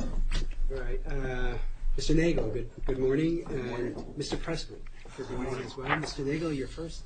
All right, Mr. Nagel, good morning, and Mr. Pressman, good morning as well. Mr. Nagel, you're first.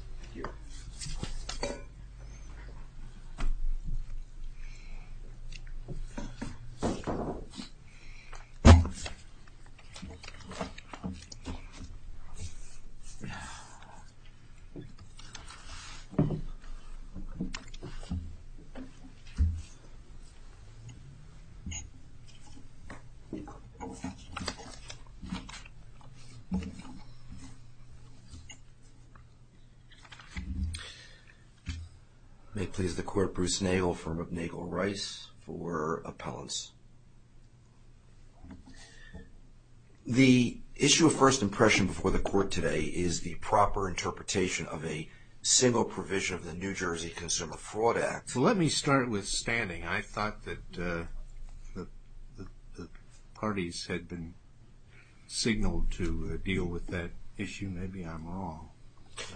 May it please the court, Bruce Nagel, firm of Nagel Rice for appellants. The issue of first impression before the court today is the proper interpretation of a single provision of the New Jersey Consumer Fraud Act. So let me start with standing. I thought that the parties had been signaled to deal with that issue. Maybe I'm wrong.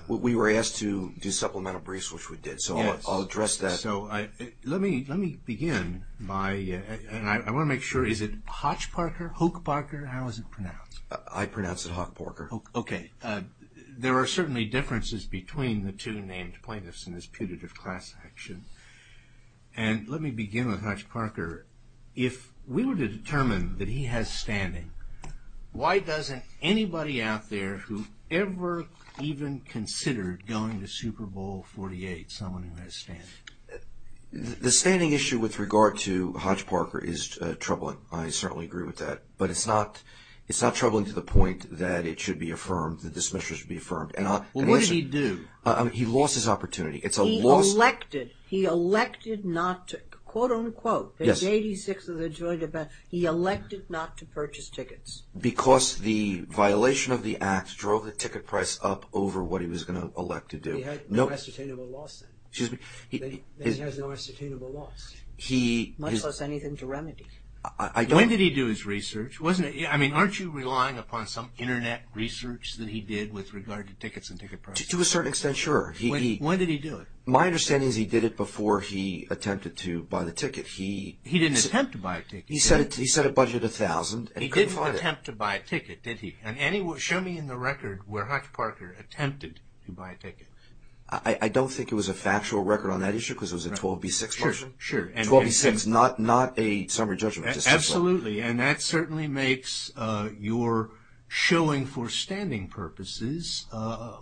We were asked to do supplemental briefs, which we did, so I'll address that. So let me begin by, and I want to make sure, is it Hodge-Parker, Hoke-Parker, how is it pronounced? I pronounce it Hoke-Parker. Okay. There are certainly differences between the two named plaintiffs in this putative class action. And let me begin with Hodge-Parker. If we were to determine that he has standing, why doesn't anybody out there who ever even considered going to Super Bowl XLVIII, someone who has standing? The standing issue with regard to Hodge-Parker is troubling. I certainly agree with that. But it's not troubling to the point that it should be affirmed, the dismissal should be affirmed. Well, what did he do? He lost his opportunity. It's a loss. He elected, he elected not to, quote-unquote, the 86 of the joint event, he elected not to purchase tickets. Because the violation of the act drove the ticket price up over what he was going to elect to do. He had no ascertainable loss then. Excuse me? He has no ascertainable loss. Much less anything to remedy. When did he do his research? I mean, aren't you relying upon some Internet research that he did with regard to tickets and ticket prices? To a certain extent, sure. When did he do it? My understanding is he did it before he attempted to buy the ticket. He didn't attempt to buy a ticket. He set a budget of $1,000 and couldn't find it. He didn't attempt to buy a ticket, did he? Show me in the record where Hodge-Parker attempted to buy a ticket. I don't think it was a factual record on that issue because it was a 12b-6 person. Sure. 12b-6, not a summary judgment. Absolutely. And that certainly makes your showing for standing purposes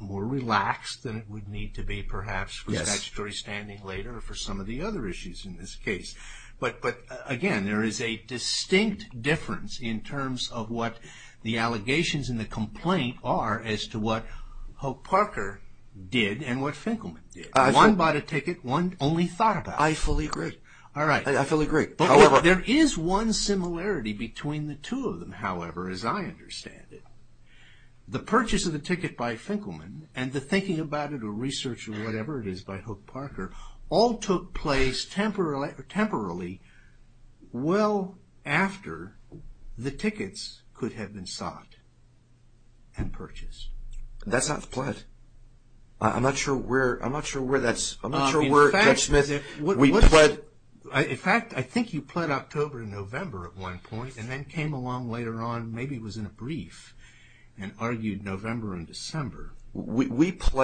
more relaxed than it would need to be perhaps for statutory standing later or for some of the other issues in this case. But, again, there is a distinct difference in terms of what the allegations in the complaint are as to what Hodge-Parker did and what Finkelman did. One bought a ticket, one only thought about it. I fully agree. All right. I fully agree. However, there is one similarity between the two of them, however, as I understand it. The purchase of the ticket by Finkelman and the thinking about it or research or whatever it is by Hodge-Parker all took place temporarily well after the tickets could have been sought and purchased. That's not the point. I'm not sure where that's – I'm not sure where, Judge Smith. In fact, I think you pled October and November at one point and then came along later on, maybe it was in a brief, and argued November and December for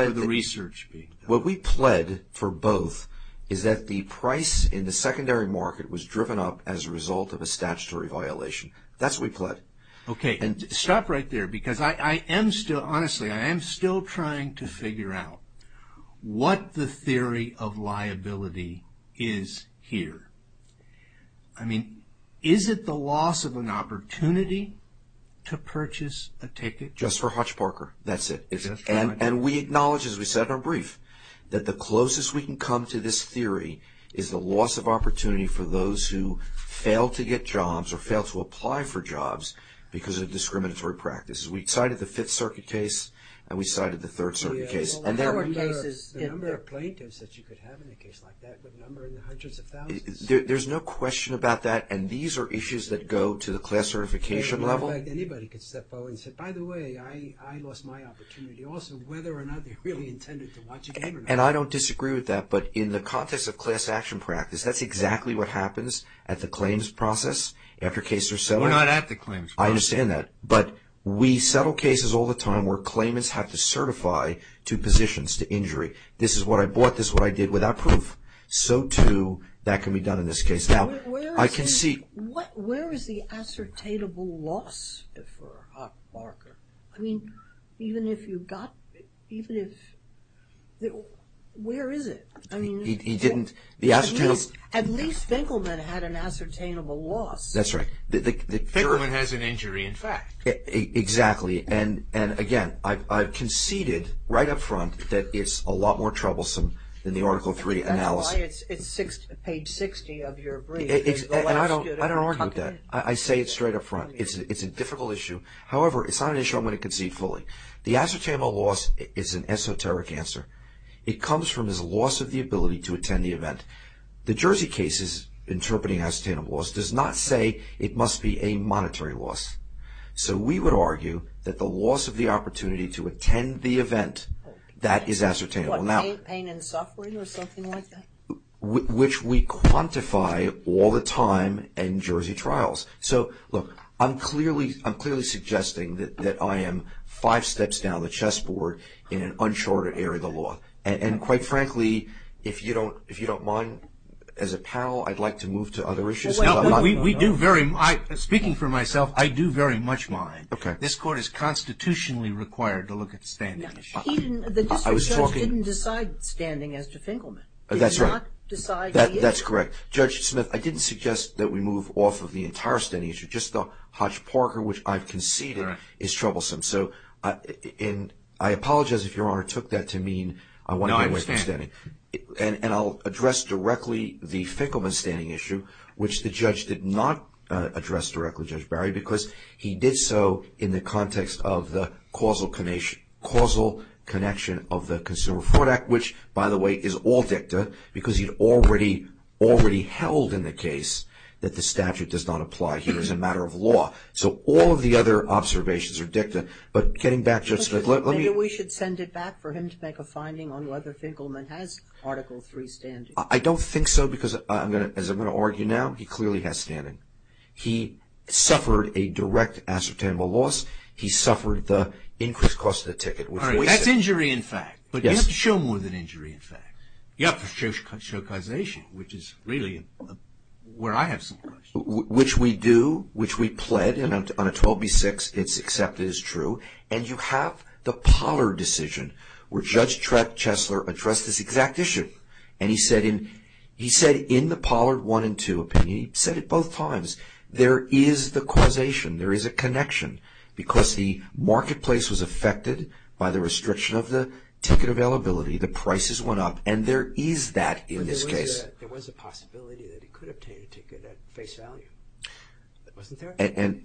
the research being done. What we pled for both is that the price in the secondary market was driven up as a result of a statutory violation. That's what we pled. Okay. Stop right there because I am still – honestly, I am still trying to figure out what the theory of liability is here. I mean, is it the loss of an opportunity to purchase a ticket? Just for Hodge-Parker. That's it. And we acknowledge, as we said in our brief, that the closest we can come to this theory is the loss of opportunity for those who fail to get jobs or fail to apply for jobs because of discriminatory practices. We cited the Fifth Circuit case and we cited the Third Circuit case. The number of plaintiffs that you could have in a case like that would number in the hundreds of thousands. There's no question about that, and these are issues that go to the class certification level. Anybody can step forward and say, by the way, I lost my opportunity. Also, whether or not they really intended to watch a game or not. And I don't disagree with that, but in the context of class action practice, that's exactly what happens at the claims process after cases are settled. We're not at the claims process. I understand that. But we settle cases all the time where claimants have to certify to positions to injury. This is what I bought. This is what I did without proof. So, too, that can be done in this case. Where is the ascertainable loss for a hot marker? I mean, even if you've got, even if, where is it? He didn't. At least Finkelman had an ascertainable loss. That's right. Finkelman has an injury, in fact. Exactly. And, again, I've conceded right up front that it's a lot more troublesome than the Article III analysis. It's page 60 of your brief. And I don't argue with that. I say it straight up front. It's a difficult issue. However, it's not an issue I'm going to concede fully. The ascertainable loss is an esoteric answer. It comes from his loss of the ability to attend the event. The Jersey case's interpreting ascertainable loss does not say it must be a monetary loss. So we would argue that the loss of the opportunity to attend the event, that is ascertainable. What, pain and suffering or something like that? Which we quantify all the time in Jersey trials. So, look, I'm clearly suggesting that I am five steps down the chess board in an unshorted area of the law. And, quite frankly, if you don't mind, as a pal, I'd like to move to other issues. Speaking for myself, I do very much mind. This Court is constitutionally required to look at the standing issue. The district judge didn't decide standing as to Finkelman. That's right. Did not decide he is? That's correct. Judge Smith, I didn't suggest that we move off of the entire standing issue. Just the Hodge-Parker, which I've conceded, is troublesome. So I apologize if Your Honor took that to mean I want to go away from standing. No, I understand. And I'll address directly the Finkelman standing issue, which the judge did not address directly, Judge Barry, because he did so in the context of the causal connection of the Consumer Fraud Act, which, by the way, is all dicta because he already held in the case that the statute does not apply here as a matter of law. So all of the other observations are dicta. But getting back, Judge Smith, let me – Maybe we should send it back for him to make a finding on whether Finkelman has Article III standing. I don't think so because, as I'm going to argue now, he clearly has standing. He suffered a direct ascertainable loss. He suffered the increased cost of the ticket. All right. That's injury, in fact. But you have to show more than injury, in fact. You have to show causation, which is really where I have some questions. Which we do, which we pled. And on a 12b-6, it's accepted as true. And you have the Pollard decision, where Judge Chesler addressed this exact issue. And he said in the Pollard 1 and 2 opinion, he said it both times, there is the causation. There is a connection. Because the marketplace was affected by the restriction of the ticket availability, the prices went up. And there is that in this case. But there was a possibility that he could obtain a ticket at face value. Wasn't there? And,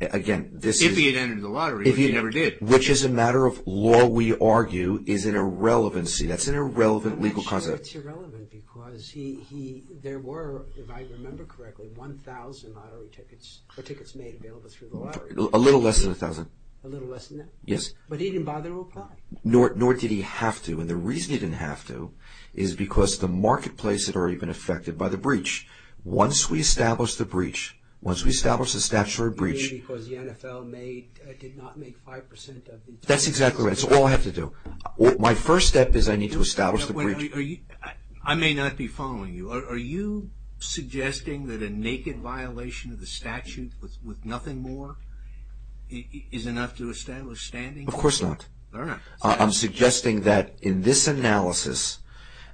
again, this is – If he had entered the lottery, which he never did. Which, as a matter of law, we argue is an irrelevancy. That's an irrelevant legal concept. I'm not sure it's irrelevant. Because he – there were, if I remember correctly, 1,000 lottery tickets. Or tickets made available through the lottery. A little less than 1,000. A little less than that. Yes. But he didn't bother to apply. Nor did he have to. And the reason he didn't have to is because the marketplace had already been affected by the breach. Once we establish the breach, once we establish the statutory breach – You mean because the NFL made – did not make 5% of the – That's exactly right. That's all I have to do. My first step is I need to establish the breach. I may not be following you. Are you suggesting that a naked violation of the statute with nothing more is enough to establish standing? Of course not. I'm suggesting that in this analysis,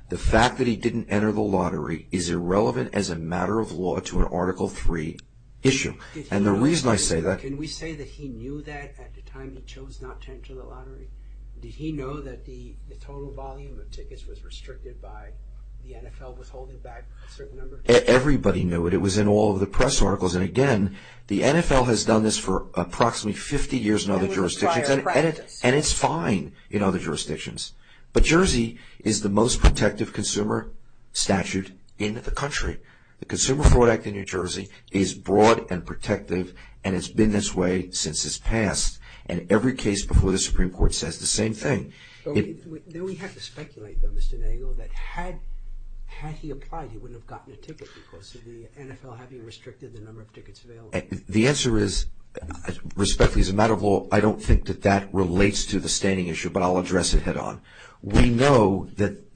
the fact that he didn't enter the lottery is irrelevant as a matter of law to an Article III issue. And the reason I say that – Can we say that he knew that at the time he chose not to enter the lottery? Did he know that the total volume of tickets was restricted by the NFL withholding back a certain number of tickets? Everybody knew it. It was in all of the press articles. And again, the NFL has done this for approximately 50 years in other jurisdictions. That was a prior practice. And it's fine in other jurisdictions. But Jersey is the most protective consumer statute in the country. The Consumer Fraud Act in New Jersey is broad and protective, and it's been this way since its past. And every case before the Supreme Court says the same thing. Do we have to speculate, though, Mr. Nagle, that had he applied, he wouldn't have gotten a ticket because of the NFL having restricted the number of tickets available? The answer is, respectfully, as a matter of law, I don't think that that relates to the standing issue, but I'll address it head-on. We know that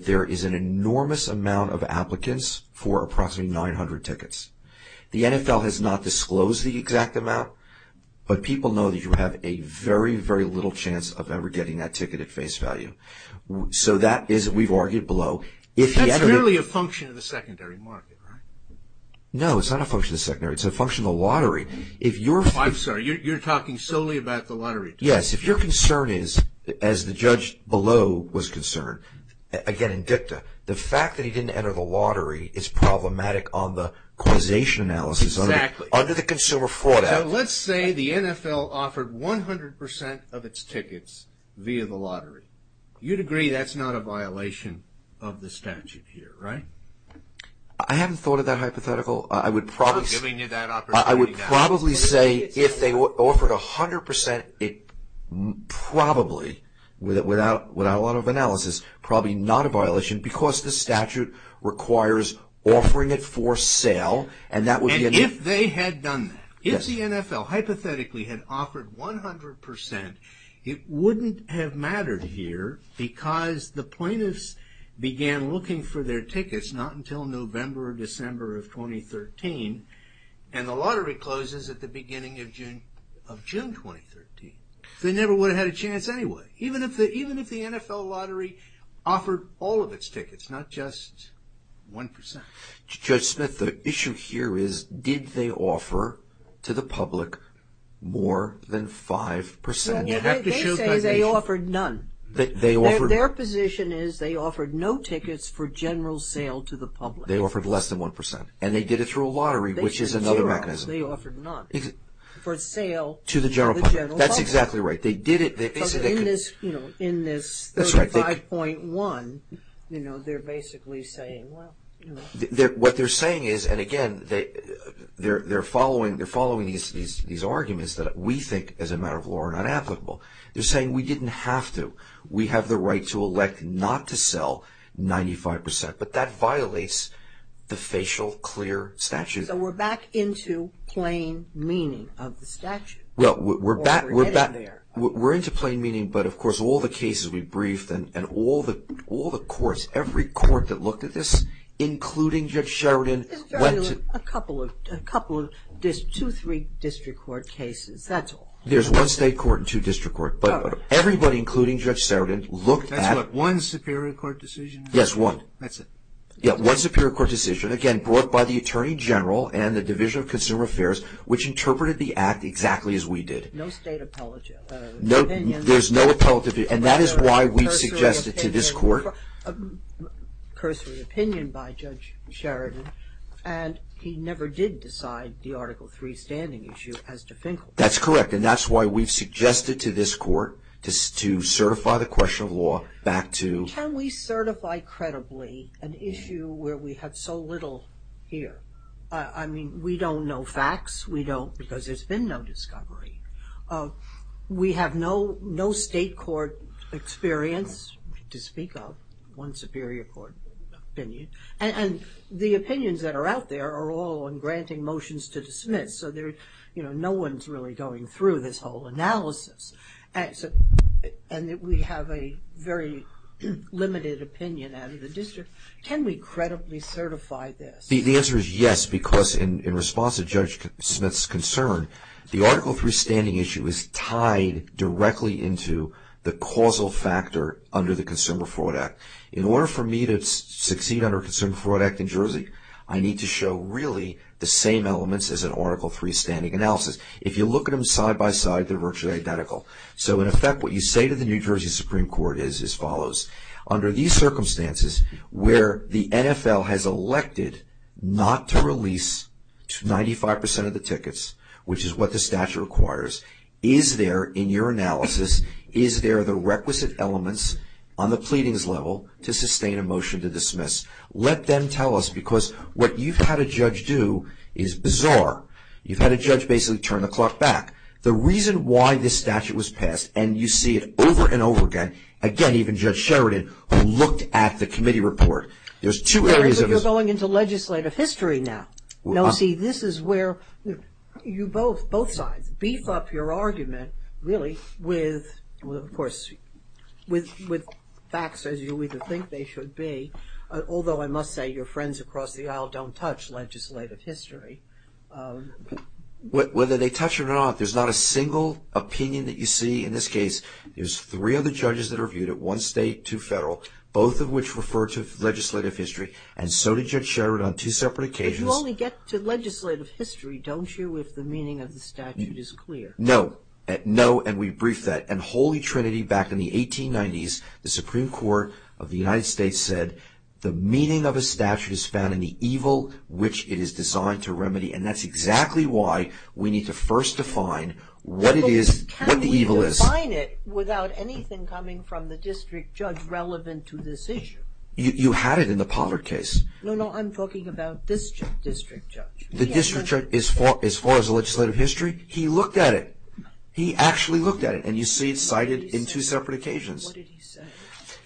there is an enormous amount of applicants for approximately 900 tickets. The NFL has not disclosed the exact amount, but people know that you have a very, very little chance of ever getting that ticket at face value. So that is, we've argued below. That's merely a function of the secondary market, right? No, it's not a function of the secondary. It's a function of the lottery. I'm sorry. You're talking solely about the lottery. Yes. If your concern is, as the judge below was concerned, again, in dicta, the fact that he didn't enter the lottery is problematic on the causation analysis. Exactly. Under the Consumer Fraud Act. So let's say the NFL offered 100% of its tickets via the lottery. You'd agree that's not a violation of the statute here, right? I haven't thought of that hypothetical. I'm giving you that opportunity now. I would probably say if they offered 100%, it probably, without a lot of analysis, probably not a violation because the statute requires offering it for sale. And if they had done that, if the NFL hypothetically had offered 100%, it wouldn't have mattered here because the plaintiffs began looking for their tickets not until November or December of 2013. And the lottery closes at the beginning of June 2013. They never would have had a chance anyway. Even if the NFL lottery offered all of its tickets, not just 1%. Judge Smith, the issue here is did they offer to the public more than 5%? They say they offered none. Their position is they offered no tickets for general sale to the public. They offered less than 1%. And they did it through a lottery, which is another mechanism. They offered none for sale to the general public. That's exactly right. Because in this 35.1, they're basically saying, well, you know. What they're saying is, and again, they're following these arguments that we think as a matter of law are not applicable. They're saying we didn't have to. We have the right to elect not to sell 95%. But that violates the facial clear statute. So we're back into plain meaning of the statute. Well, we're back. We're getting there. We're into plain meaning. But, of course, all the cases we briefed and all the courts, every court that looked at this, including Judge Sheridan. A couple of two, three district court cases. That's all. There's one state court and two district court. But everybody, including Judge Sheridan, looked at it. That's what? One superior court decision? Yes, one. That's it. Yeah, one superior court decision. Again, brought by the Attorney General and the Division of Consumer Affairs, which interpreted the act exactly as we did. No state appellate opinion. There's no appellate opinion. And that is why we suggested to this court. Cursory opinion by Judge Sheridan. And he never did decide the Article III standing issue as definitive. That's correct. And that's why we've suggested to this court to certify the question of law back to. Can we certify credibly an issue where we have so little here? I mean, we don't know facts. We don't because there's been no discovery. We have no state court experience to speak of. One superior court opinion. And the opinions that are out there are all in granting motions to dismiss. So no one's really going through this whole analysis. And we have a very limited opinion out of the district. Can we credibly certify this? The answer is yes because in response to Judge Smith's concern, the Article III standing issue is tied directly into the causal factor under the Consumer Fraud Act. In order for me to succeed under the Consumer Fraud Act in Jersey, I need to show really the same elements as an Article III standing analysis. If you look at them side by side, they're virtually identical. So in effect, what you say to the New Jersey Supreme Court is as follows. Under these circumstances where the NFL has elected not to release 95% of the tickets, which is what the statute requires, is there in your analysis, is there the requisite elements on the pleadings level to sustain a motion to dismiss? Let them tell us because what you've had a judge do is bizarre. You've had a judge basically turn the clock back. The reason why this statute was passed and you see it over and over again, again even Judge Sheridan who looked at the committee report, there's two areas of this. You're going into legislative history now. No, see this is where you both, both sides, beef up your argument really with, of course, with facts as you either think they should be, although I must say your friends across the aisle don't touch legislative history. Whether they touch it or not, there's not a single opinion that you see in this case. There's three other judges that are viewed at one state, two federal, both of which refer to legislative history and so did Judge Sheridan on two separate occasions. But you only get to legislative history, don't you, if the meaning of the statute is clear? No, no, and we briefed that. And Holy Trinity back in the 1890s, the Supreme Court of the United States said, the meaning of a statute is found in the evil which it is designed to remedy and that's exactly why we need to first define what it is, what the evil is. But can we define it without anything coming from the district judge relevant to this issue? You had it in the Povert case. No, no, I'm talking about this district judge. The district judge, as far as the legislative history, he looked at it. He actually looked at it and you see it cited in two separate occasions. What did he say?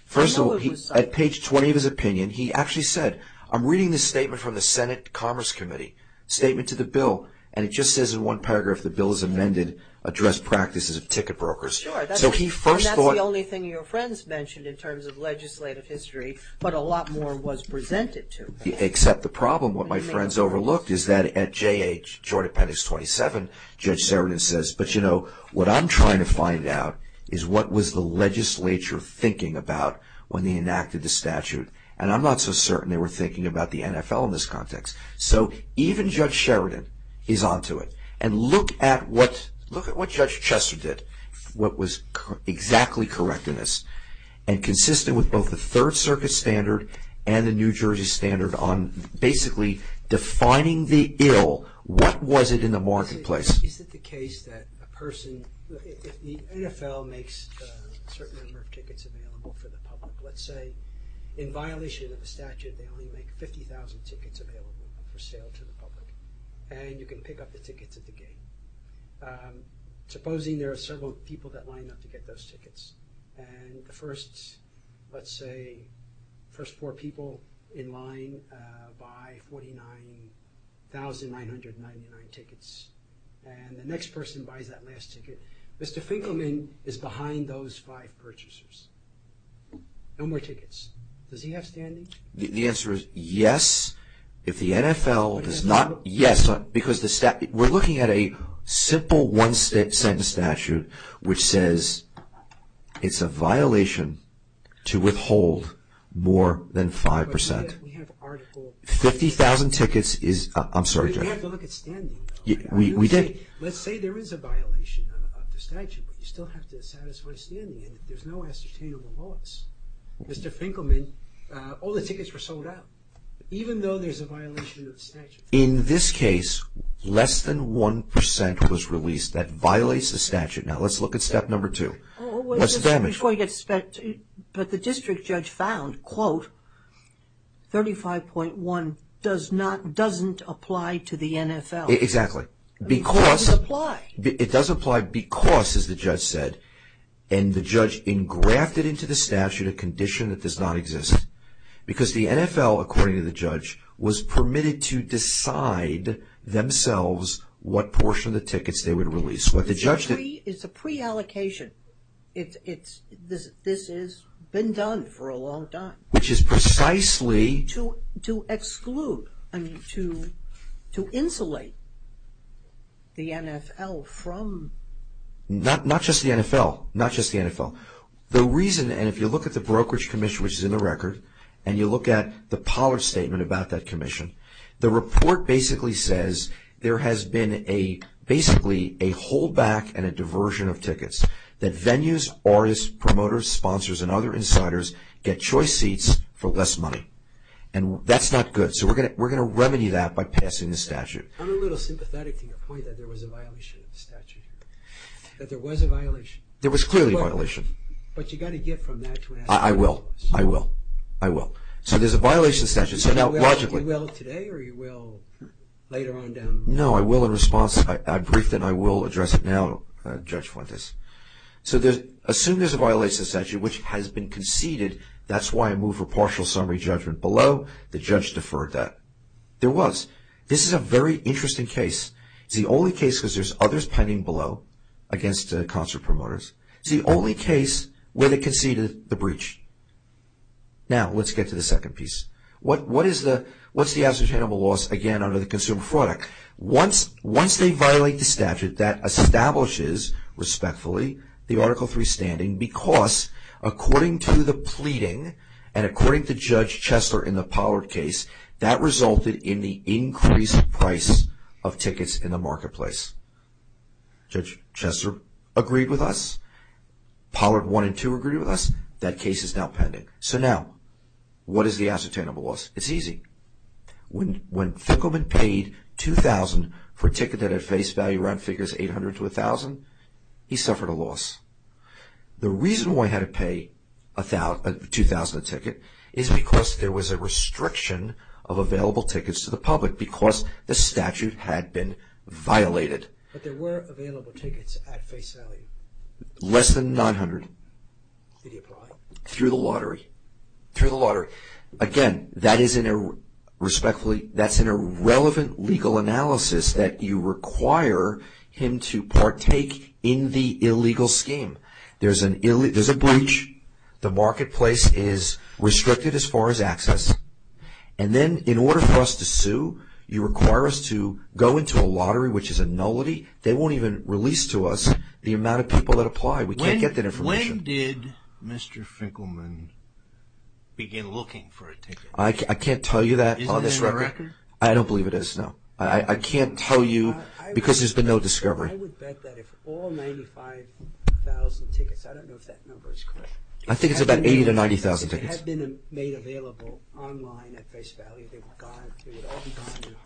First of all, at page 20 of his opinion, he actually said, I'm reading this statement from the Senate Commerce Committee, statement to the bill, and it just says in one paragraph, the bill is amended, address practices of ticket brokers. Sure. And that's the only thing your friends mentioned in terms of legislative history, but a lot more was presented to me. Except the problem, what my friends overlooked is that at J.H., short appendix 27, Judge Sheridan says, but, you know, what I'm trying to find out is what was the legislature thinking about when they enacted the statute. And I'm not so certain they were thinking about the NFL in this context. So even Judge Sheridan is on to it. And look at what Judge Chester did, what was exactly correct in this, and consistent with both the Third Circuit standard and the New Jersey standard on basically defining the ill, what was it in the marketplace? Is it the case that a person, if the NFL makes a certain number of tickets available for the public, let's say in violation of the statute they only make 50,000 tickets available for sale to the public, and you can pick up the tickets at the gate. Supposing there are several people that line up to get those tickets, and the first, let's say, first four people in line buy 49,999 tickets, and the next person buys that last ticket. Mr. Finkelman is behind those five purchasers. No more tickets. Does he have standing? The answer is yes. If the NFL does not, yes, because the statute, we're looking at a simple one-sentence statute which says it's a violation to withhold more than 5%. 50,000 tickets is, I'm sorry, Judge. We have to look at standing. We did. Let's say there is a violation of the statute, but you still have to satisfy standing, and there's no ascertainable loss. Mr. Finkelman, all the tickets were sold out, even though there's a violation of the statute. In this case, less than 1% was released. That violates the statute. Now, let's look at step number two. What's the damage? But the district judge found, quote, 35.1 doesn't apply to the NFL. Exactly. It doesn't apply. It does apply because, as the judge said, and the judge engrafted into the statute a condition that does not exist, because the NFL, according to the judge, was permitted to decide themselves what portion of the tickets they would release. It's a pre-allocation. This has been done for a long time. Which is precisely... To exclude, I mean, to insulate the NFL from... Not just the NFL. Not just the NFL. The reason, and if you look at the Brokerage Commission, which is in the record, and you look at the Pollard Statement about that commission, the report basically says there has been basically a holdback and a diversion of tickets, that venues, artists, promoters, sponsors, and other insiders get choice seats for less money. And that's not good. So we're going to remedy that by passing the statute. I'm a little sympathetic to your point that there was a violation of the statute. That there was a violation. There was clearly a violation. But you've got to get from that... I will. I will. I will. So there's a violation of the statute. You will today or you will later on down the line? No, I will in response. I briefed it and I will address it now, Judge Fuentes. So assume there's a violation of the statute, which has been conceded. That's why I move for partial summary judgment below. The judge deferred that. There was. This is a very interesting case. It's the only case because there's others pending below against concert promoters. It's the only case where they conceded the breach. Now, let's get to the second piece. What's the ascertainable loss, again, under the consumer product? Once they violate the statute, that establishes, respectfully, the Article III standing because according to the pleading and according to Judge Chesler in the Pollard case, that resulted in the increased price of tickets in the marketplace. Judge Chesler agreed with us. Pollard 1 and 2 agreed with us. That case is now pending. So now, what is the ascertainable loss? It's easy. When Fickleman paid $2,000 for a ticket that had face value around figures $800 to $1,000, he suffered a loss. The reason why he had to pay $2,000 a ticket is because there was a restriction of available tickets to the public because the statute had been violated. But there were available tickets at face value. Less than $900. Did he apply? Through the lottery. Through the lottery. Again, that is in a, respectfully, that's in a relevant legal analysis that you require him to partake in the illegal scheme. There's a breach. The marketplace is restricted as far as access. And then in order for us to sue, you require us to go into a lottery, which is a nullity. They won't even release to us the amount of people that apply. We can't get that information. When did Mr. Fickleman begin looking for a ticket? I can't tell you that on this record. Isn't there a record? I don't believe it is, no. I can't tell you because there's been no discovery. I would bet that if all 95,000 tickets, I don't know if that number is correct. I think it's about 80,000 to 90,000 tickets. It has been made available online at face value. They would all be gone in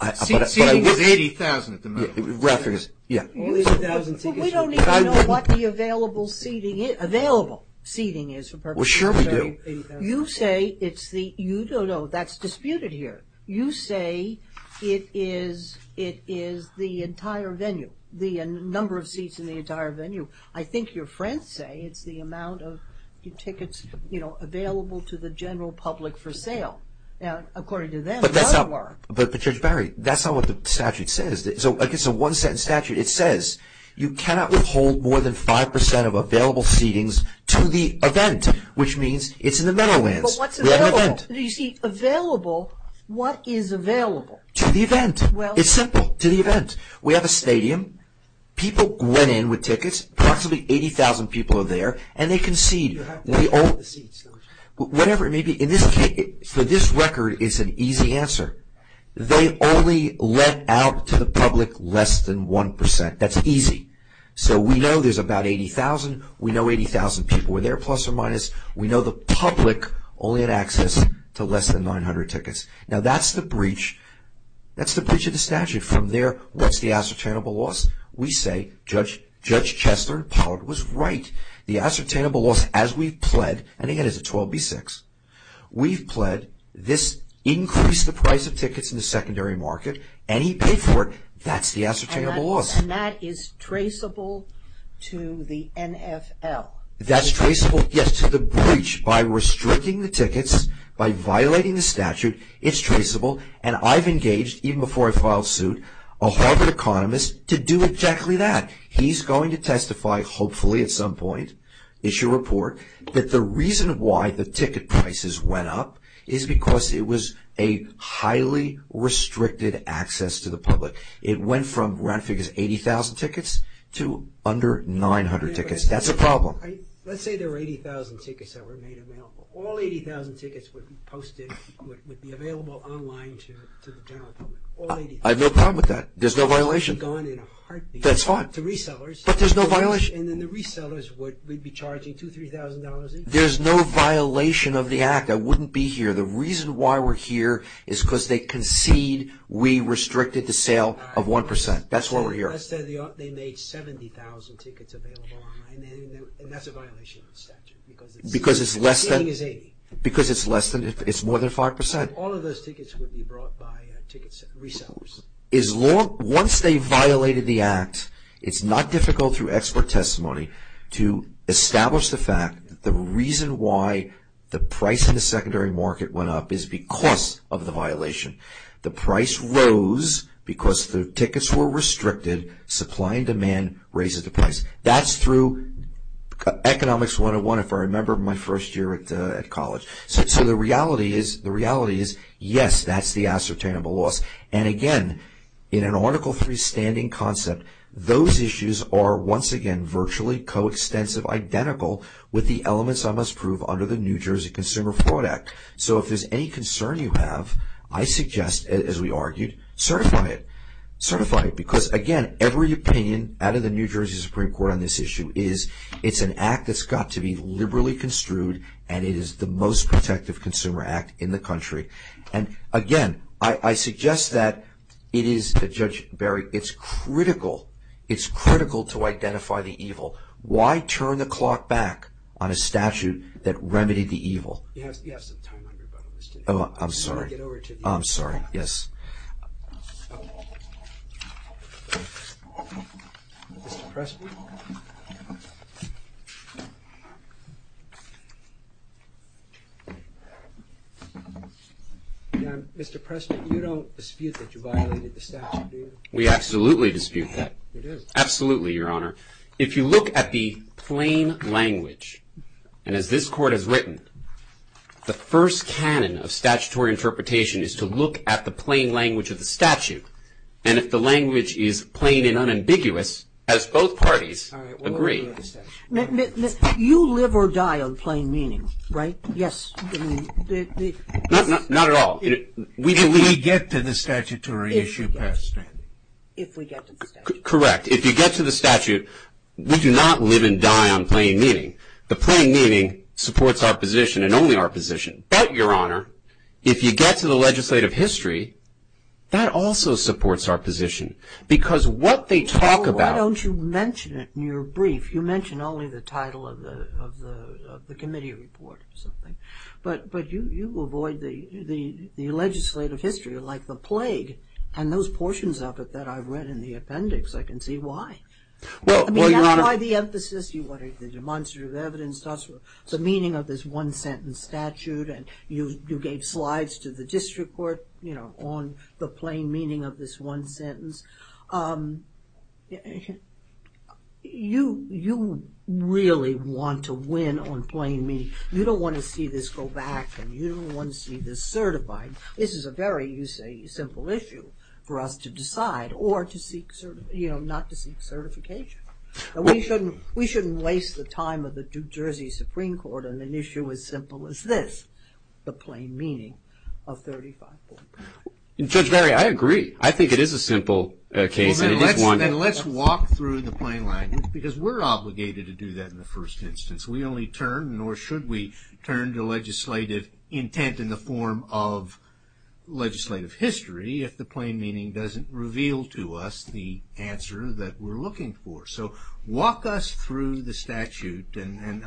a heartbeat. Seating is 80,000 at the moment. Yeah. All 80,000 tickets. But we don't even know what the available seating is, available seating is. Well, sure we do. You say it's the, you don't know, that's disputed here. You say it is the entire venue, the number of seats in the entire venue. I think your friends say it's the amount of tickets, you know, available to the general public for sale. According to them, a lot of work. But Judge Barry, that's not what the statute says. It's a one-sentence statute. It says you cannot withhold more than 5% of available seatings to the event, which means it's in the Meadowlands. But what's available? You see, available, what is available? To the event. It's simple. To the event. We have a stadium. People went in with tickets. Approximately 80,000 people are there. And they concede. Whatever it may be. In this case, for this record, it's an easy answer. They only let out to the public less than 1%. That's easy. So we know there's about 80,000. We know 80,000 people were there, plus or minus. We know the public only had access to less than 900 tickets. Now, that's the breach. That's the breach of the statute. From there, what's the ascertainable loss? We say Judge Chester and Pollard was right. The ascertainable loss as we've pled, and again, it's a 12B6. We've pled this increased the price of tickets in the secondary market, and he paid for it. That's the ascertainable loss. And that is traceable to the NFL? That's traceable, yes, to the breach. By restricting the tickets, by violating the statute, it's traceable. And I've engaged, even before I filed suit, a Harvard economist to do exactly that. He's going to testify, hopefully at some point, issue a report, that the reason why the ticket prices went up is because it was a highly restricted access to the public. It went from, round figures, 80,000 tickets to under 900 tickets. That's a problem. Let's say there were 80,000 tickets that were made available. All 80,000 tickets would be posted, would be available online to the general public. I have no problem with that. There's no violation. That's fine. To resellers. But there's no violation. And then the resellers would be charging $2,000, $3,000. There's no violation of the act. I wouldn't be here. The reason why we're here is because they concede we restricted the sale of 1%. That's why we're here. Let's say they made 70,000 tickets available online, and that's a violation of the statute. Because it's less than, it's more than 5%. All of those tickets would be brought by ticket resellers. Once they violated the act, it's not difficult through expert testimony to establish the fact that the reason why the price in the secondary market went up is because of the violation. The price rose because the tickets were restricted. Supply and demand raises the price. That's through Economics 101, if I remember my first year at college. So the reality is, yes, that's the ascertainable loss. And, again, in an Article III standing concept, those issues are, once again, virtually coextensive, identical with the elements I must prove under the New Jersey Consumer Fraud Act. So if there's any concern you have, I suggest, as we argued, certify it. Certify it. Because, again, every opinion out of the New Jersey Supreme Court on this issue is, it's an act that's got to be liberally construed, and it is the most protective consumer act in the country. And, again, I suggest that it is, Judge Berry, it's critical, it's critical to identify the evil. Why turn the clock back on a statute that remedied the evil? You have some time on your bucket list. I'm sorry. I'm sorry. Yes. Mr. Pressman? Mr. Pressman, you don't dispute that you violated the statute, do you? We absolutely dispute that. You do? Absolutely, Your Honor. If you look at the plain language, and as this Court has written, the first canon of statutory interpretation is to look at the plain language of the statute. And if the language is plain and unambiguous, as both parties agree. You live or die on plain meaning, right? Yes. Not at all. If we get to the statutory issue past standing. If we get to the statute. Correct. If you get to the statute, we do not live and die on plain meaning. The plain meaning supports our position and only our position. But, Your Honor, if you get to the legislative history, that also supports our position. Because what they talk about. Why don't you mention it in your brief? You mention only the title of the committee report or something. But you avoid the legislative history, like the plague, and those portions of it that I read in the appendix, I can see why. Well, Your Honor. You try the emphasis, you wanted the demonstrative evidence, the meaning of this one-sentence statute, and you gave slides to the district court on the plain meaning of this one sentence. You really want to win on plain meaning. You don't want to see this go back, and you don't want to see this certified. This is a very simple issue for us to decide or not to seek certification. We shouldn't waste the time of the New Jersey Supreme Court on an issue as simple as this, the plain meaning of 35.5. Judge Barry, I agree. I think it is a simple case. Then let's walk through the plain language, because we're obligated to do that in the first instance. We only turn, nor should we turn to legislative intent in the form of legislative history, if the plain meaning doesn't reveal to us the answer that we're looking for. So walk us through the statute. And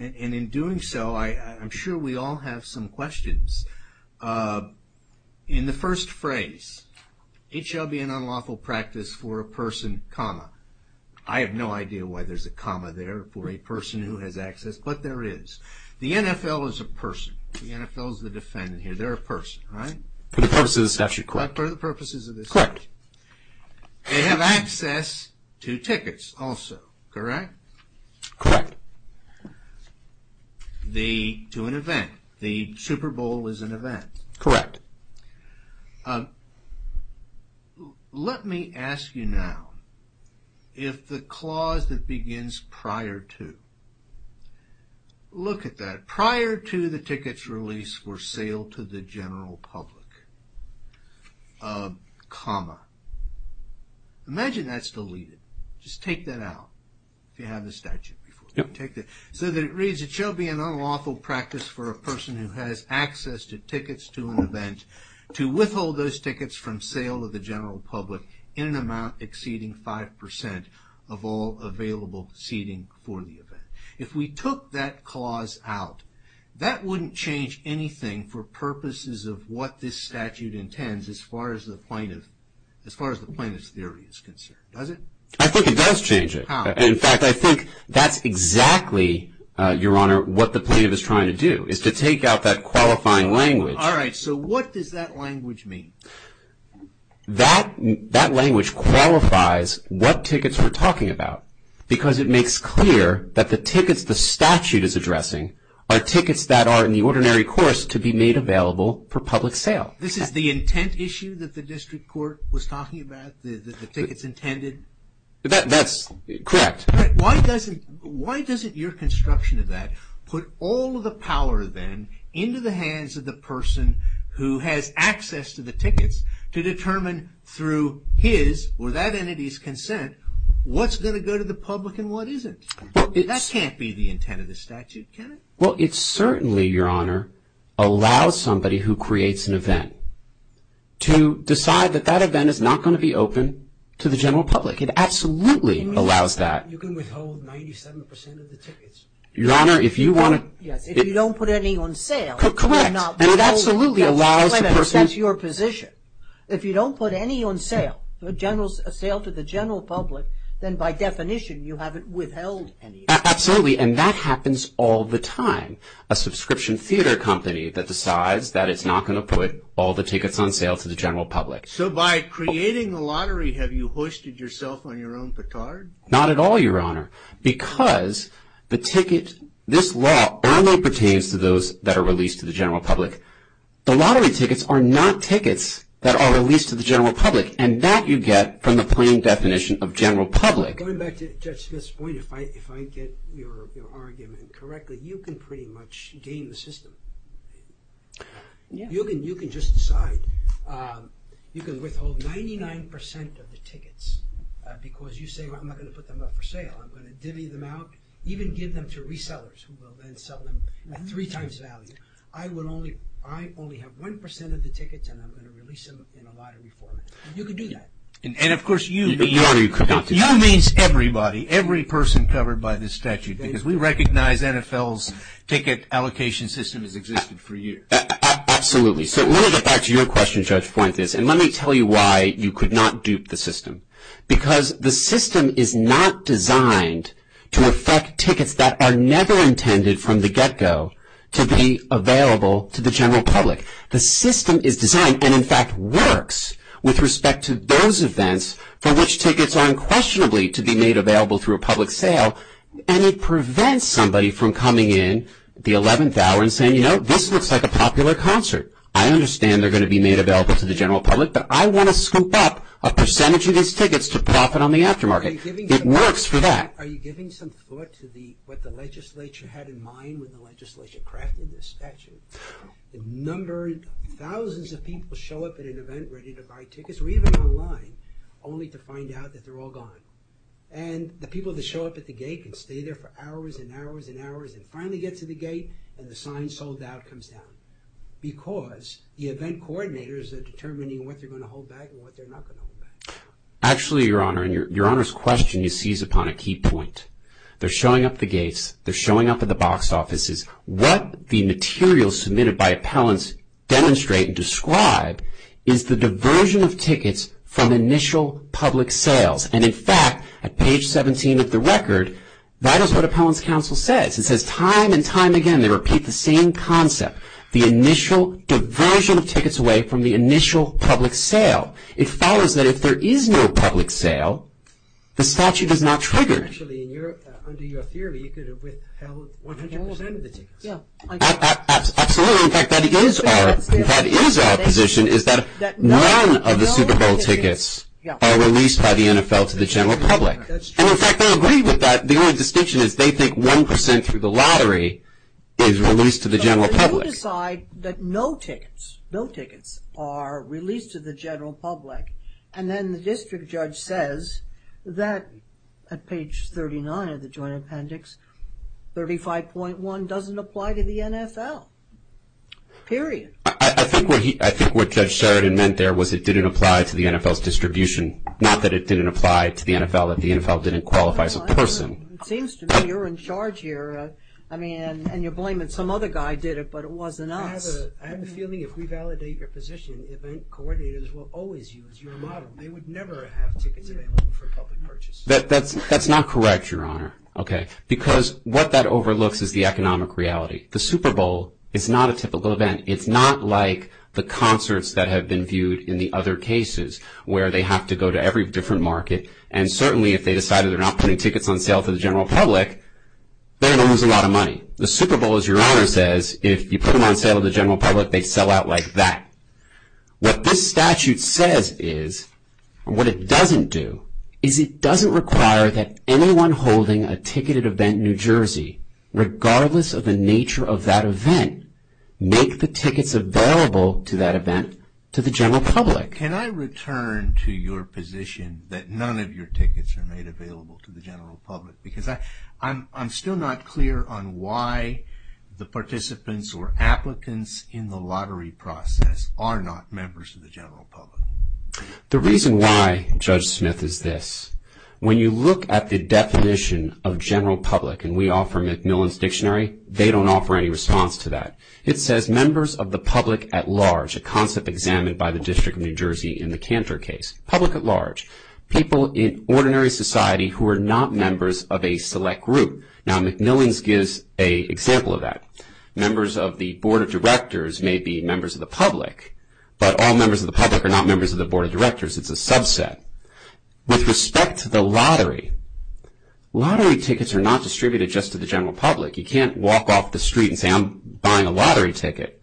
in doing so, I'm sure we all have some questions. In the first phrase, it shall be an unlawful practice for a person, comma. I have no idea why there's a comma there for a person who has access, but there is. The NFL is a person. The NFL is the defendant here. They're a person, right? For the purposes of the statute, correct. But for the purposes of the statute. Correct. They have access to tickets also, correct? Correct. To an event. The Super Bowl is an event. Correct. Let me ask you now, if the clause that begins prior to, look at that. Prior to the ticket's release for sale to the general public, comma. Imagine that's deleted. Just take that out, if you have the statute before you. So that it reads, it shall be an unlawful practice for a person who has access to tickets to an event to withhold those tickets from sale to the general public in an amount exceeding 5% of all available seating for the event. If we took that clause out, that wouldn't change anything for purposes of what this statute intends, as far as the plaintiff's theory is concerned, does it? I think it does change it. How? In fact, I think that's exactly, Your Honor, what the plaintiff is trying to do, is to take out that qualifying language. All right. So what does that language mean? That language qualifies what tickets we're talking about, because it makes clear that the tickets the statute is addressing are tickets that are in the ordinary course to be made available for public sale. This is the intent issue that the district court was talking about, the tickets intended? That's correct. Why doesn't your construction of that put all of the power, then, into the hands of the person who has access to the tickets to determine through his or that entity's consent what's going to go to the public and what isn't? That can't be the intent of the statute, can it? Well, it certainly, Your Honor, allows somebody who creates an event to decide that that event is not going to be open to the general public. It absolutely allows that. You can withhold 97% of the tickets. Your Honor, if you want to... Yes, if you don't put any on sale. Correct, and it absolutely allows the person... That's your position. If you don't put any on sale, a sale to the general public, then by definition you haven't withheld any. Absolutely, and that happens all the time. A subscription theater company that decides that it's not going to put all the tickets on sale to the general public. So by creating the lottery, have you hoisted yourself on your own petard? Not at all, Your Honor, because the ticket... This law only pertains to those that are released to the general public. The lottery tickets are not tickets that are released to the general public, and that you get from the plain definition of general public. Going back to Judge Smith's point, if I get your argument correctly, you can pretty much game the system. You can just decide. You can withhold 99% of the tickets because you say, I'm not going to put them up for sale, I'm going to divvy them out, even give them to resellers who will then sell them at three times value. I only have 1% of the tickets and I'm going to release them in a lottery format. You can do that. And, of course, you mean... Your Honor, you could not do that. You means everybody, every person covered by this statute, because we recognize NFL's ticket allocation system has existed for years. Absolutely. So let me get back to your question, Judge Fuentes, and let me tell you why you could not dupe the system. Because the system is not designed to effect tickets that are never intended from the get-go to be available to the general public. The system is designed and, in fact, works with respect to those events for which tickets are unquestionably to be made available through a public sale and it prevents somebody from coming in the 11th hour and saying, you know, this looks like a popular concert. I understand they're going to be made available to the general public, but I want to scoop up a percentage of these tickets to profit on the aftermarket. It works for that. Are you giving some thought to what the legislature had in mind when the legislature crafted this statute? The number of thousands of people show up at an event ready to buy tickets, or even online, only to find out that they're all gone. And the people that show up at the gate can stay there for hours and hours and hours and finally get to the gate and the sign sold out comes down because the event coordinators are determining what they're going to hold back and what they're not going to hold back. Actually, Your Honor, and Your Honor's question is seized upon a key point. They're showing up at the gates, they're showing up at the box offices. What the materials submitted by appellants demonstrate and describe is the diversion of tickets from initial public sales. And, in fact, at page 17 of the record, that is what appellants' counsel says. It says time and time again they repeat the same concept, the initial diversion of tickets away from the initial public sale. It follows that if there is no public sale, the statute is not triggered. Actually, under your theory, you could have withheld 100% of the tickets. Absolutely. In fact, that is our position is that none of the Super Bowl tickets are released by the NFL to the general public. And, in fact, they'll agree with that. The only distinction is they think 1% through the lottery is released to the general public. But you decide that no tickets, no tickets are released to the general public and then the district judge says that at page 39 of the joint appendix, 35.1 doesn't apply to the NFL, period. I think what Judge Sheridan meant there was it didn't apply to the NFL's distribution, not that it didn't apply to the NFL, that the NFL didn't qualify as a person. It seems to me you're in charge here. I mean, and you're blaming some other guy did it, but it wasn't us. I have a feeling if we validate your position, event coordinators will always use your model. They would never have tickets available for public purchase. That's not correct, Your Honor, because what that overlooks is the economic reality. The Super Bowl is not a typical event. It's not like the concerts that have been viewed in the other cases where they have to go to every different market, and certainly if they decide they're not putting tickets on sale to the general public, they're going to lose a lot of money. The Super Bowl, as Your Honor says, if you put them on sale to the general public, they'd sell out like that. What this statute says is, and what it doesn't do, is it doesn't require that anyone holding a ticketed event in New Jersey, regardless of the nature of that event, make the tickets available to that event to the general public. Can I return to your position that none of your tickets are made available to the general public? Because I'm still not clear on why the participants or applicants in the lottery process are not members of the general public. The reason why, Judge Smith, is this. When you look at the definition of general public, and we offer MacMillan's Dictionary, they don't offer any response to that. It says members of the public at large, a concept examined by the District of New Jersey in the Cantor case. Public at large. People in ordinary society who are not members of a select group. Now, MacMillan's gives an example of that. Members of the Board of Directors may be members of the public, but all members of the public are not members of the Board of Directors. It's a subset. With respect to the lottery, lottery tickets are not distributed just to the general public. You can't walk off the street and say, I'm buying a lottery ticket.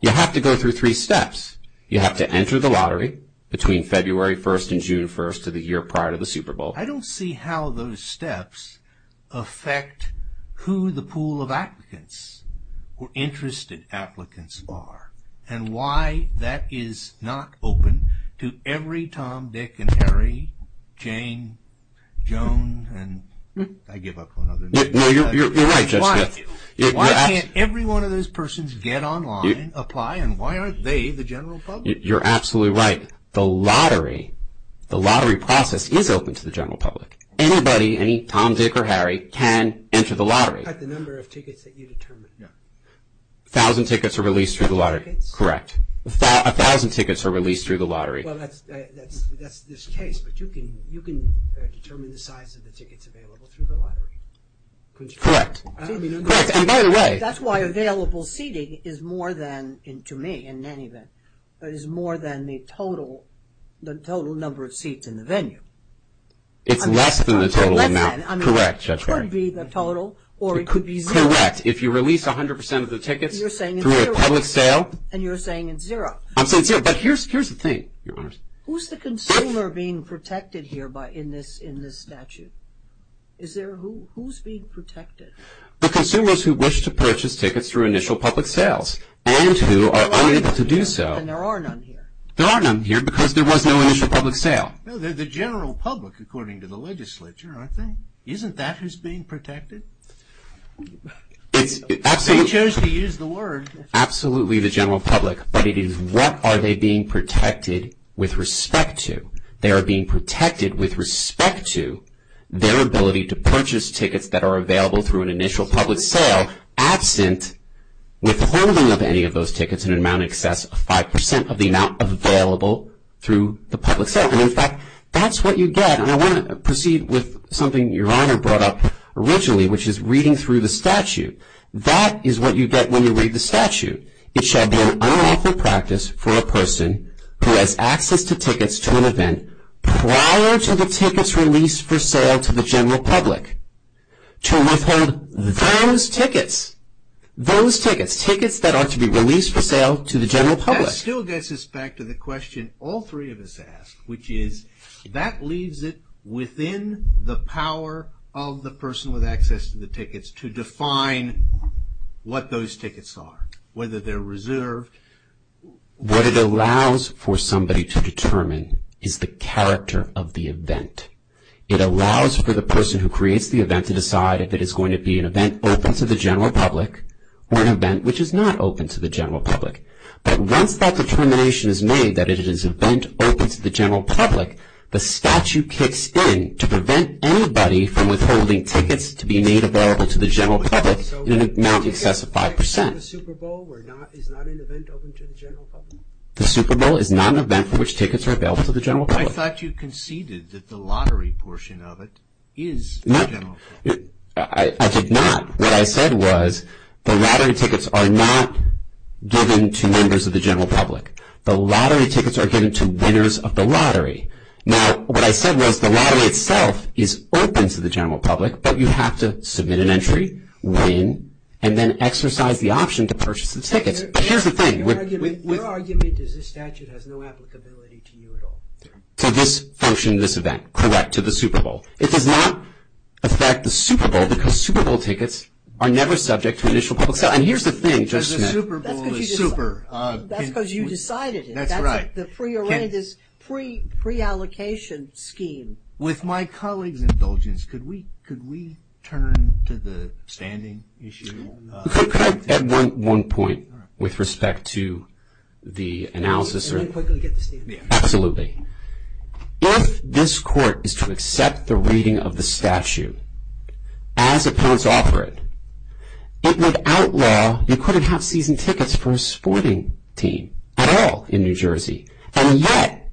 You have to go through three steps. You have to enter the lottery between February 1st and June 1st of the year prior to the Super Bowl. I don't see how those steps affect who the pool of applicants or interested applicants are and why that is not open to every Tom, Dick, and Harry, Jane, Joan, and I give up on other names. No, you're right, Judge Smith. Why can't every one of those persons get online, apply, and why aren't they the general public? You're absolutely right. The lottery process is open to the general public. Anybody, any Tom, Dick, or Harry, can enter the lottery. A thousand tickets are released through the lottery. Correct. A thousand tickets are released through the lottery. Well, that's this case, but you can determine the size of the tickets available through the lottery. Correct. And by the way. That's why available seating is more than, to me in any event, is more than the total number of seats in the venue. It's less than the total amount. Correct, Judge Ferry. It could be the total or it could be zero. Correct. If you release 100% of the tickets through a public sale. And you're saying it's zero. I'm saying zero. But here's the thing, Your Honors. Who's the consumer being protected here in this statute? Who's being protected? The consumers who wish to purchase tickets through initial public sales and who are unable to do so. And there are none here. There are none here because there was no initial public sale. They're the general public according to the legislature, aren't they? Isn't that who's being protected? They chose to use the word. Absolutely the general public, but it is what are they being protected with respect to? They are being protected with respect to their ability to purchase tickets that are available through an initial public sale absent withholding of any of those tickets in an amount in excess of 5% of the amount available through the public sale. And, in fact, that's what you get. And I want to proceed with something Your Honor brought up originally, which is reading through the statute. That is what you get when you read the statute. It shall be an unlawful practice for a person who has access to tickets to an event prior to the tickets released for sale to the general public to withhold those tickets, those tickets, tickets that are to be released for sale to the general public. That still gets us back to the question all three of us asked, which is that leaves it within the power of the person with access to the tickets to define what those tickets are, whether they're reserved. What it allows for somebody to determine is the character of the event. It allows for the person who creates the event to decide if it is going to be an event open to the general public or an event which is not open to the general public. But once that determination is made that it is an event open to the general public, the statute kicks in to prevent anybody from withholding tickets to be made available to the general public in an amount in excess of 5%. The Super Bowl is not an event open to the general public? The Super Bowl is not an event for which tickets are available to the general public. I thought you conceded that the lottery portion of it is the general public. I did not. What I said was the lottery tickets are not given to members of the general public. The lottery tickets are given to winners of the lottery. Now, what I said was the lottery itself is open to the general public, but you have to submit an entry, win, and then exercise the option to purchase the tickets. But here's the thing. Your argument is this statute has no applicability to you at all. To this function, this event, correct, to the Super Bowl. It does not affect the Super Bowl because Super Bowl tickets are never subject to initial public sale. And here's the thing, Judge Smith. The Super Bowl is super. That's because you decided it. That's right. That's the pre-arranged, pre-allocation scheme. With my colleague's indulgence, could we turn to the standing issue? Could I add one point with respect to the analysis? And then quickly get to standing. Absolutely. If this court is to accept the reading of the statute as opponents offer it, it would outlaw, you couldn't have season tickets for a sporting team at all in New Jersey. And yet,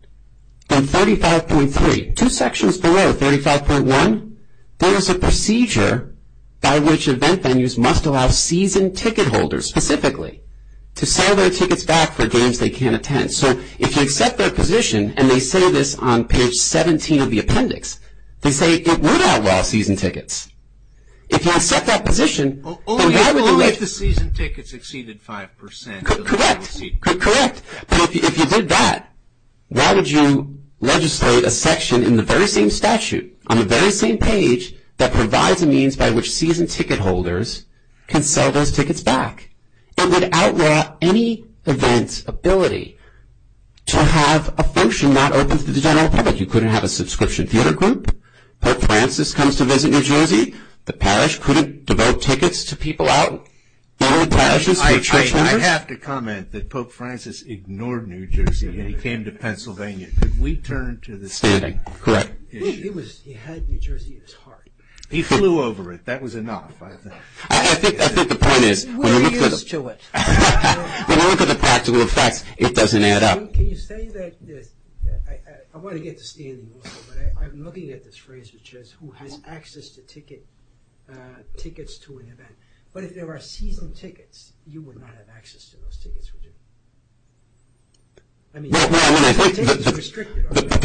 in 35.3, two sections below 35.1, there is a procedure by which event venues must allow season ticket holders specifically to sell their tickets back for games they can't attend. So if you accept their position, and they say this on page 17 of the appendix, they say it would outlaw season tickets. If you accept that position, then why would you legislate? Only if the season tickets exceeded 5%. Correct. Correct. But if you did that, why would you legislate a section in the very same statute, on the very same page, that provides a means by which season ticket holders can sell those tickets back, and would outlaw any event's ability to have a function not open to the general public. You couldn't have a subscription theater group. Pope Francis comes to visit New Jersey. The parish couldn't devote tickets to people out. There were parishes for church members. I have to comment that Pope Francis ignored New Jersey when he came to Pennsylvania. Could we turn to the standing issue? Correct. He had New Jersey at his heart. He flew over it. That was enough, I think. I think the point is, when you look at the practical effects, it doesn't add up. Can you say that, I want to get to standing also, but I'm looking at this phrase, which is who has access to tickets to an event. But if there were season tickets, you would not have access to those tickets, would you? I mean, season tickets are restricted, aren't they?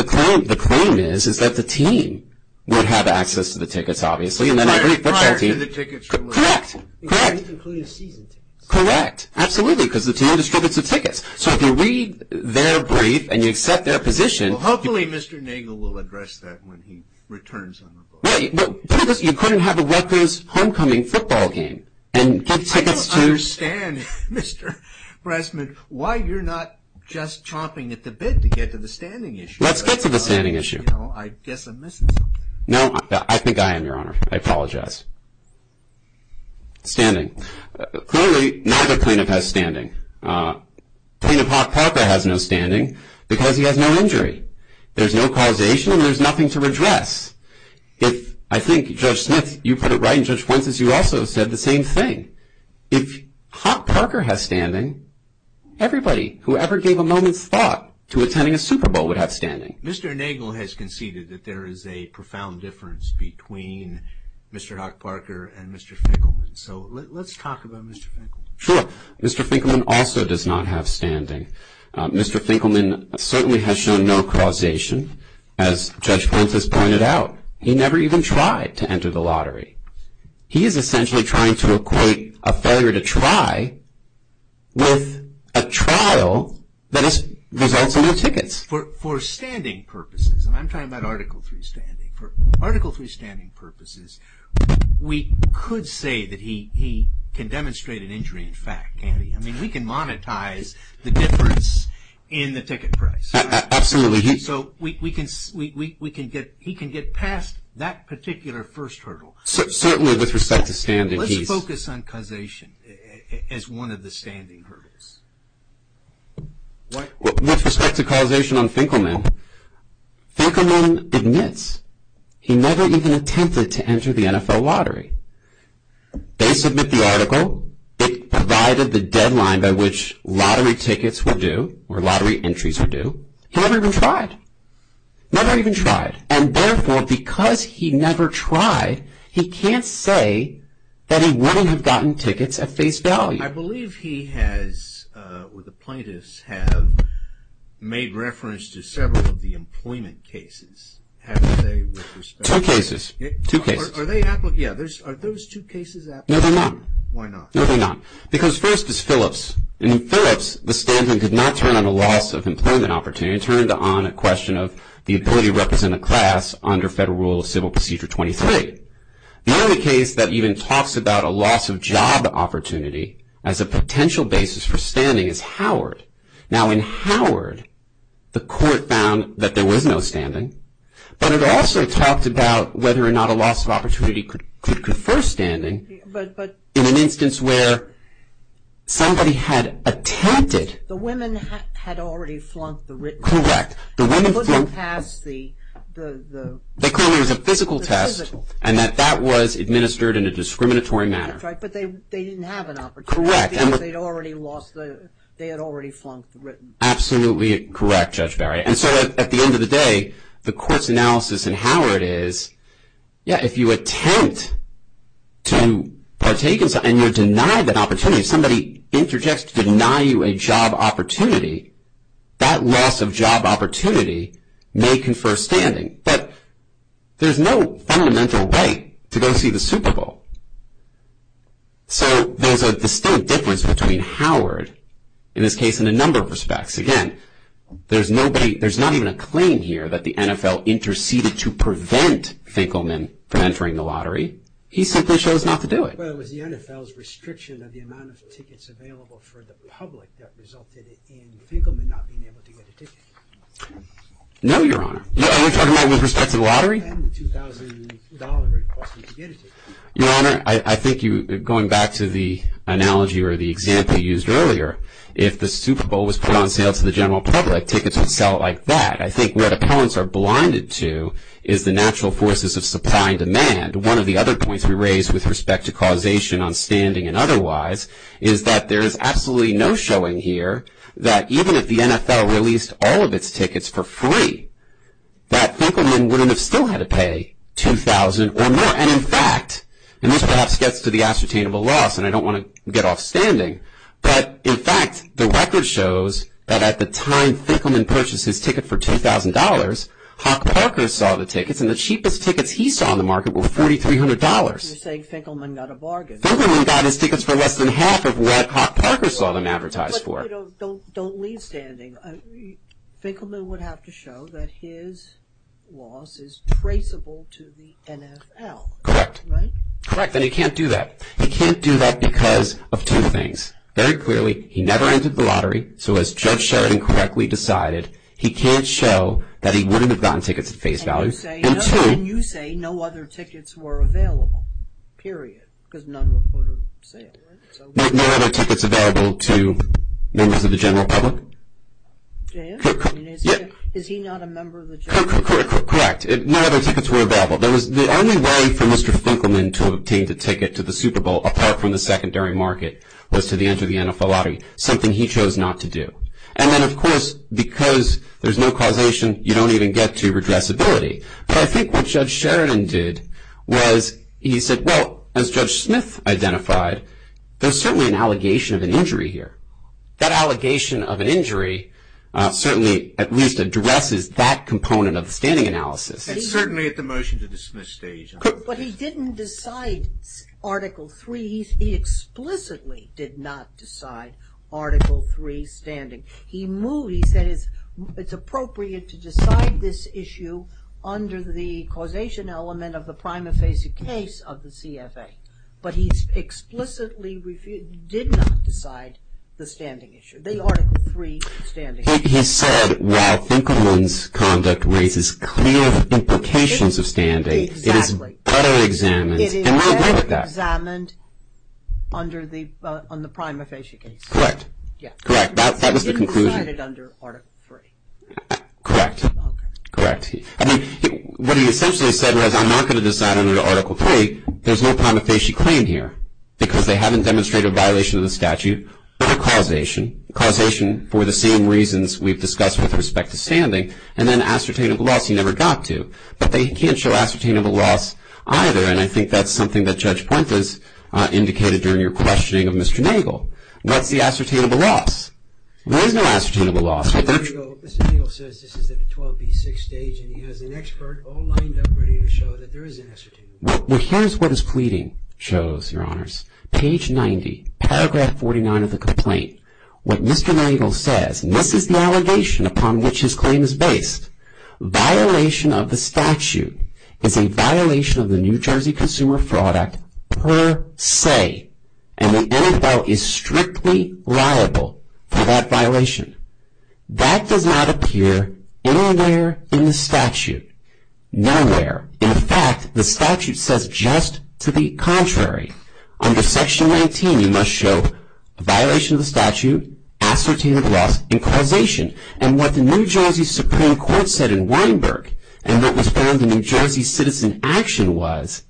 The claim is, is that the team would have access to the tickets, obviously. Prior to the tickets were limited. Correct. Correct. Including season tickets. Correct. Absolutely, because the team distributes the tickets. So if you read their brief and you accept their position. Hopefully, Mr. Nagle will address that when he returns on the boat. You couldn't have a Rutgers homecoming football game and get tickets to... I don't understand, Mr. Brassman, why you're not just chomping at the bit to get to the standing issue. Let's get to the standing issue. I guess I'm missing something. No, I think I am, Your Honor. I apologize. Standing. Clearly, neither plaintiff has standing. Plaintiff Hawk Parker has no standing because he has no injury. There's no causation and there's nothing to redress. If, I think, Judge Smith, you put it right, and Judge Pointes, you also said the same thing. If Hawk Parker has standing, everybody, whoever gave a moment's thought to attending a Super Bowl would have standing. Mr. Nagle has conceded that there is a profound difference between Mr. Hawk Parker and Mr. Finkelman. So let's talk about Mr. Finkelman. Sure. Mr. Finkelman also does not have standing. Mr. Finkelman certainly has shown no causation, as Judge Pointes pointed out. He never even tried to enter the lottery. He is essentially trying to equate a failure to try with a trial that results in no tickets. For standing purposes, and I'm talking about Article III standing, for Article III standing purposes, we could say that he can demonstrate an injury in fact. I mean, we can monetize the difference in the ticket price. Absolutely. So he can get past that particular first hurdle. Certainly with respect to standing. Let's focus on causation as one of the standing hurdles. With respect to causation on Finkelman, Finkelman admits he never even attempted to enter the NFL lottery. They submit the article. It provided the deadline by which lottery tickets were due, or lottery entries were due. He never even tried. Never even tried. And therefore, because he never tried, he can't say that he wouldn't have gotten tickets at face value. I believe he has, or the plaintiffs have, made reference to several of the employment cases. Two cases. Two cases. Are those two cases applicable? No, they're not. Why not? No, they're not. Because first is Phillips. In Phillips, the standing could not turn on a loss of employment opportunity. It turned on a question of the ability to represent a class under Federal Rule of Civil Procedure 23. The only case that even talks about a loss of job opportunity as a potential basis for standing is Howard. Now, in Howard, the court found that there was no standing, but it also talked about whether or not a loss of opportunity could confer standing in an instance where somebody had attempted. The women had already flunked the written test. Correct. They couldn't pass the physical test. And that that was administered in a discriminatory manner. That's right, but they didn't have an opportunity. Correct. They had already lost the, they had already flunked the written. Absolutely correct, Judge Barry. And so at the end of the day, the court's analysis in Howard is, yeah, if you attempt to partake in something and you're denied that opportunity, if somebody interjects to deny you a job opportunity, that loss of job opportunity may confer standing. But there's no fundamental way to go see the Super Bowl. So there's a distinct difference between Howard in this case in a number of respects. Again, there's nobody, there's not even a claim here that the NFL interceded to prevent Finkelman from entering the lottery. He simply chose not to do it. Was the NFL's restriction of the amount of tickets available for the public that resulted in Finkelman not being able to get a ticket? No, Your Honor. Are you talking about with respect to the lottery? And the $2,000 it would cost him to get a ticket. Your Honor, I think going back to the analogy or the example you used earlier, if the Super Bowl was put on sale to the general public, tickets would sell like that. I think what appellants are blinded to is the natural forces of supply and demand. One of the other points we raised with respect to causation on standing and otherwise, is that there is absolutely no showing here that even if the NFL released all of its tickets for free, that Finkelman wouldn't have still had to pay $2,000 or more. And in fact, and this perhaps gets to the ascertainable loss, and I don't want to get off standing, but in fact the record shows that at the time Finkelman purchased his ticket for $2,000, Hawk Parker saw the tickets, and the cheapest tickets he saw on the market were $4,300. You're saying Finkelman got a bargain. Finkelman got his tickets for less than half of what Hawk Parker saw them advertised for. But don't leave standing. Finkelman would have to show that his loss is traceable to the NFL. Correct. Right? Correct, and he can't do that. He can't do that because of two things. Very clearly, he never entered the lottery, so as Judge Sheridan correctly decided, he can't show that he wouldn't have gotten tickets at face value. And you say no other tickets were available, period, because none were for sale. No other tickets available to members of the general public? Yes. Is he not a member of the general public? Correct. No other tickets were available. The only way for Mr. Finkelman to obtain the ticket to the Super Bowl, apart from the secondary market, was to the end of the NFL lottery, something he chose not to do. And then, of course, because there's no causation, you don't even get to redressability. But I think what Judge Sheridan did was he said, well, as Judge Smith identified, there's certainly an allegation of an injury here. That allegation of an injury certainly at least addresses that component of the standing analysis. And certainly at the motion to dismiss stage. But he didn't decide Article III. He explicitly did not decide Article III standing. He said it's appropriate to decide this issue under the causation element of the prima facie case of the CFA. But he explicitly did not decide the standing issue, the Article III standing issue. He said, while Finkelman's conduct raises clear implications of standing, it is better examined. It is better examined on the prima facie case. Correct. Correct. That was the conclusion. He decided under Article III. Correct. Okay. Correct. I mean, what he essentially said was, I'm not going to decide under Article III. There's no prima facie claim here. Because they haven't demonstrated a violation of the statute or causation. Causation for the same reasons we've discussed with respect to standing. And then ascertainable loss, he never got to. But they can't show ascertainable loss either. And I think that's something that Judge Puente has indicated during your questioning of Mr. Nagel. What's the ascertainable loss? There is no ascertainable loss. Mr. Nagel says this is at the 12B6 stage. And he has an expert all lined up ready to show that there is an ascertainable loss. Well, here's what his pleading shows, Your Honors. Page 90, paragraph 49 of the complaint. What Mr. Nagel says, and this is the allegation upon which his claim is based. Violation of the statute is a violation of the New Jersey Consumer Fraud Act per se. And the NFL is strictly liable for that violation. That does not appear anywhere in the statute. Nowhere. In fact, the statute says just to the contrary. Under Section 19, you must show a violation of the statute, ascertainable loss, and causation. And what the New Jersey Supreme Court said in Weinberg, and what was found in the New Jersey Citizen Action was,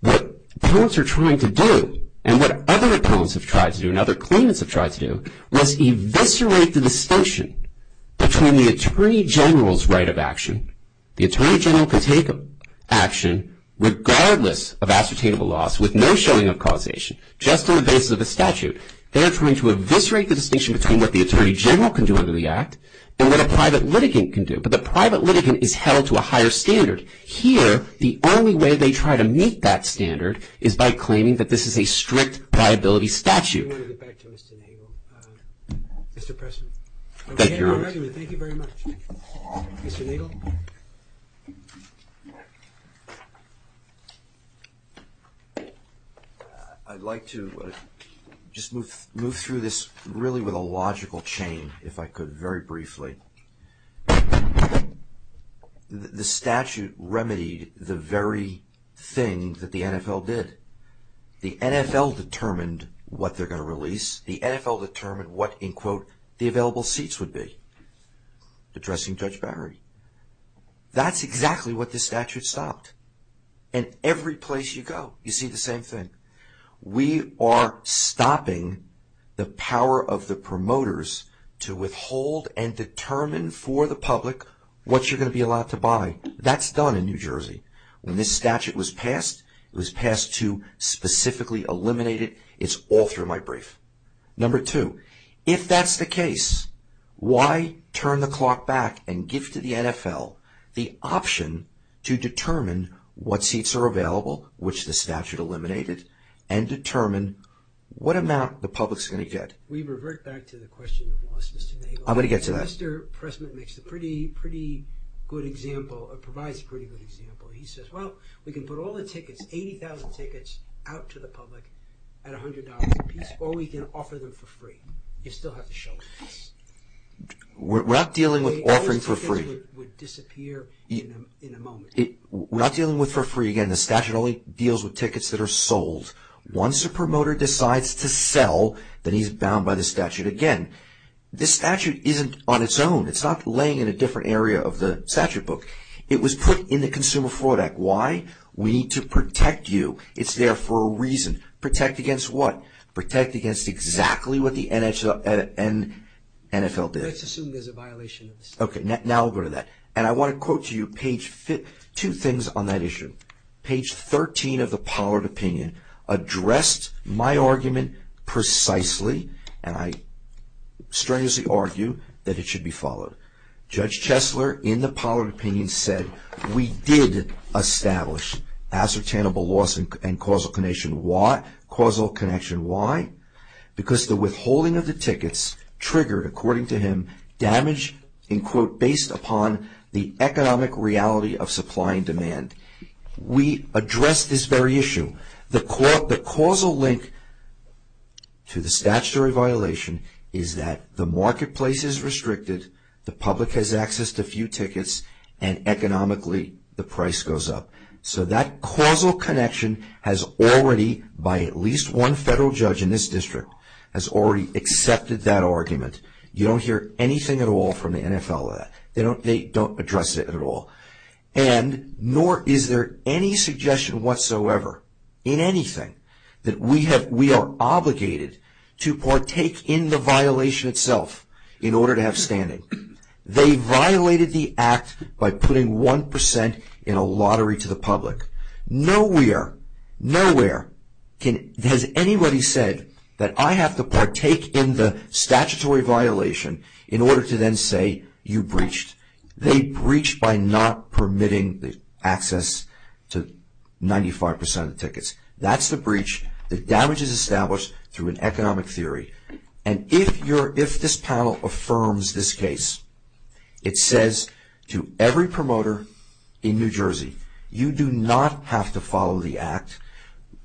what appellants are trying to do, and what other appellants have tried to do, and other claimants have tried to do, was eviscerate the distinction between the Attorney General's right of action. The Attorney General can take action regardless of ascertainable loss with no showing of causation, just on the basis of the statute. They are trying to eviscerate the distinction between what the Attorney General can do under the act and what a private litigant can do. But the private litigant is held to a higher standard. Here, the only way they try to meet that standard is by claiming that this is a strict liability statute. I want to get back to Mr. Nagel. Mr. President. Thank you, Your Honor. Thank you very much. Mr. Nagel. Thank you. I'd like to just move through this really with a logical chain, if I could, very briefly. The statute remedied the very thing that the NFL did. The NFL determined what they're going to release. The NFL determined what, in quote, the available seats would be. Addressing Judge Barry. That's exactly what this statute stopped. And every place you go, you see the same thing. We are stopping the power of the promoters to withhold and determine for the public what you're going to be allowed to buy. That's done in New Jersey. When this statute was passed, it was passed to specifically eliminate it. It's all through my brief. Number two, if that's the case, why turn the clock back and give to the NFL the option to determine what seats are available, which the statute eliminated, and determine what amount the public's going to get. We revert back to the question of loss, Mr. Nagel. I'm going to get to that. Mr. President makes a pretty good example, or provides a pretty good example. He says, well, we can put all the tickets, 80,000 tickets, out to the public at $100 apiece, or we can offer them for free. You still have to show them. We're not dealing with offering for free. All those tickets would disappear in a moment. We're not dealing with for free. Again, the statute only deals with tickets that are sold. Once a promoter decides to sell, then he's bound by the statute again. This statute isn't on its own. It's not laying in a different area of the statute book. It was put in the Consumer Fraud Act. Why? We need to protect you. It's there for a reason. Protect against what? Protect against exactly what the NFL did. Let's assume there's a violation of the statute. Okay, now we'll go to that. And I want to quote to you two things on that issue. Page 13 of the Pollard Opinion addressed my argument precisely, and I strenuously argue that it should be followed. Judge Chesler, in the Pollard Opinion, said, We did establish ascertainable loss and causal connection. Why? Causal connection. Why? Because the withholding of the tickets triggered, according to him, damage based upon the economic reality of supply and demand. We addressed this very issue. The causal link to the statutory violation is that the marketplace is restricted, the public has access to a few tickets, and economically, the price goes up. So that causal connection has already, by at least one federal judge in this district, has already accepted that argument. You don't hear anything at all from the NFL on that. They don't address it at all. And nor is there any suggestion whatsoever, in anything, that we are obligated to partake in the violation itself in order to have standing. They violated the act by putting 1% in a lottery to the public. Nowhere, nowhere has anybody said that I have to partake in the statutory violation in order to then say you breached. They breached by not permitting access to 95% of the tickets. That's the breach. The damage is established through an economic theory. And if this panel affirms this case, it says to every promoter in New Jersey, you do not have to follow the act.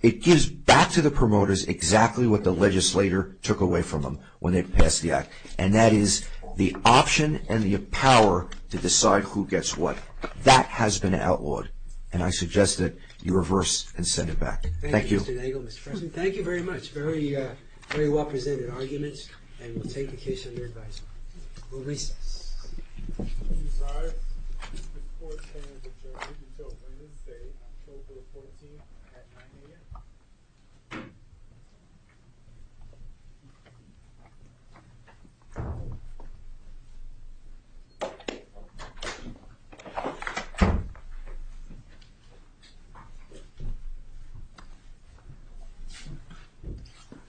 It gives back to the promoters exactly what the legislator took away from them when they passed the act. And that is the option and the power to decide who gets what. That has been outlawed. And I suggest that you reverse and send it back. Thank you. Thank you, Mr. Nagel. Mr. President, thank you very much. Very well presented arguments. And we'll take the case under advisement. We'll recess. We'll recess.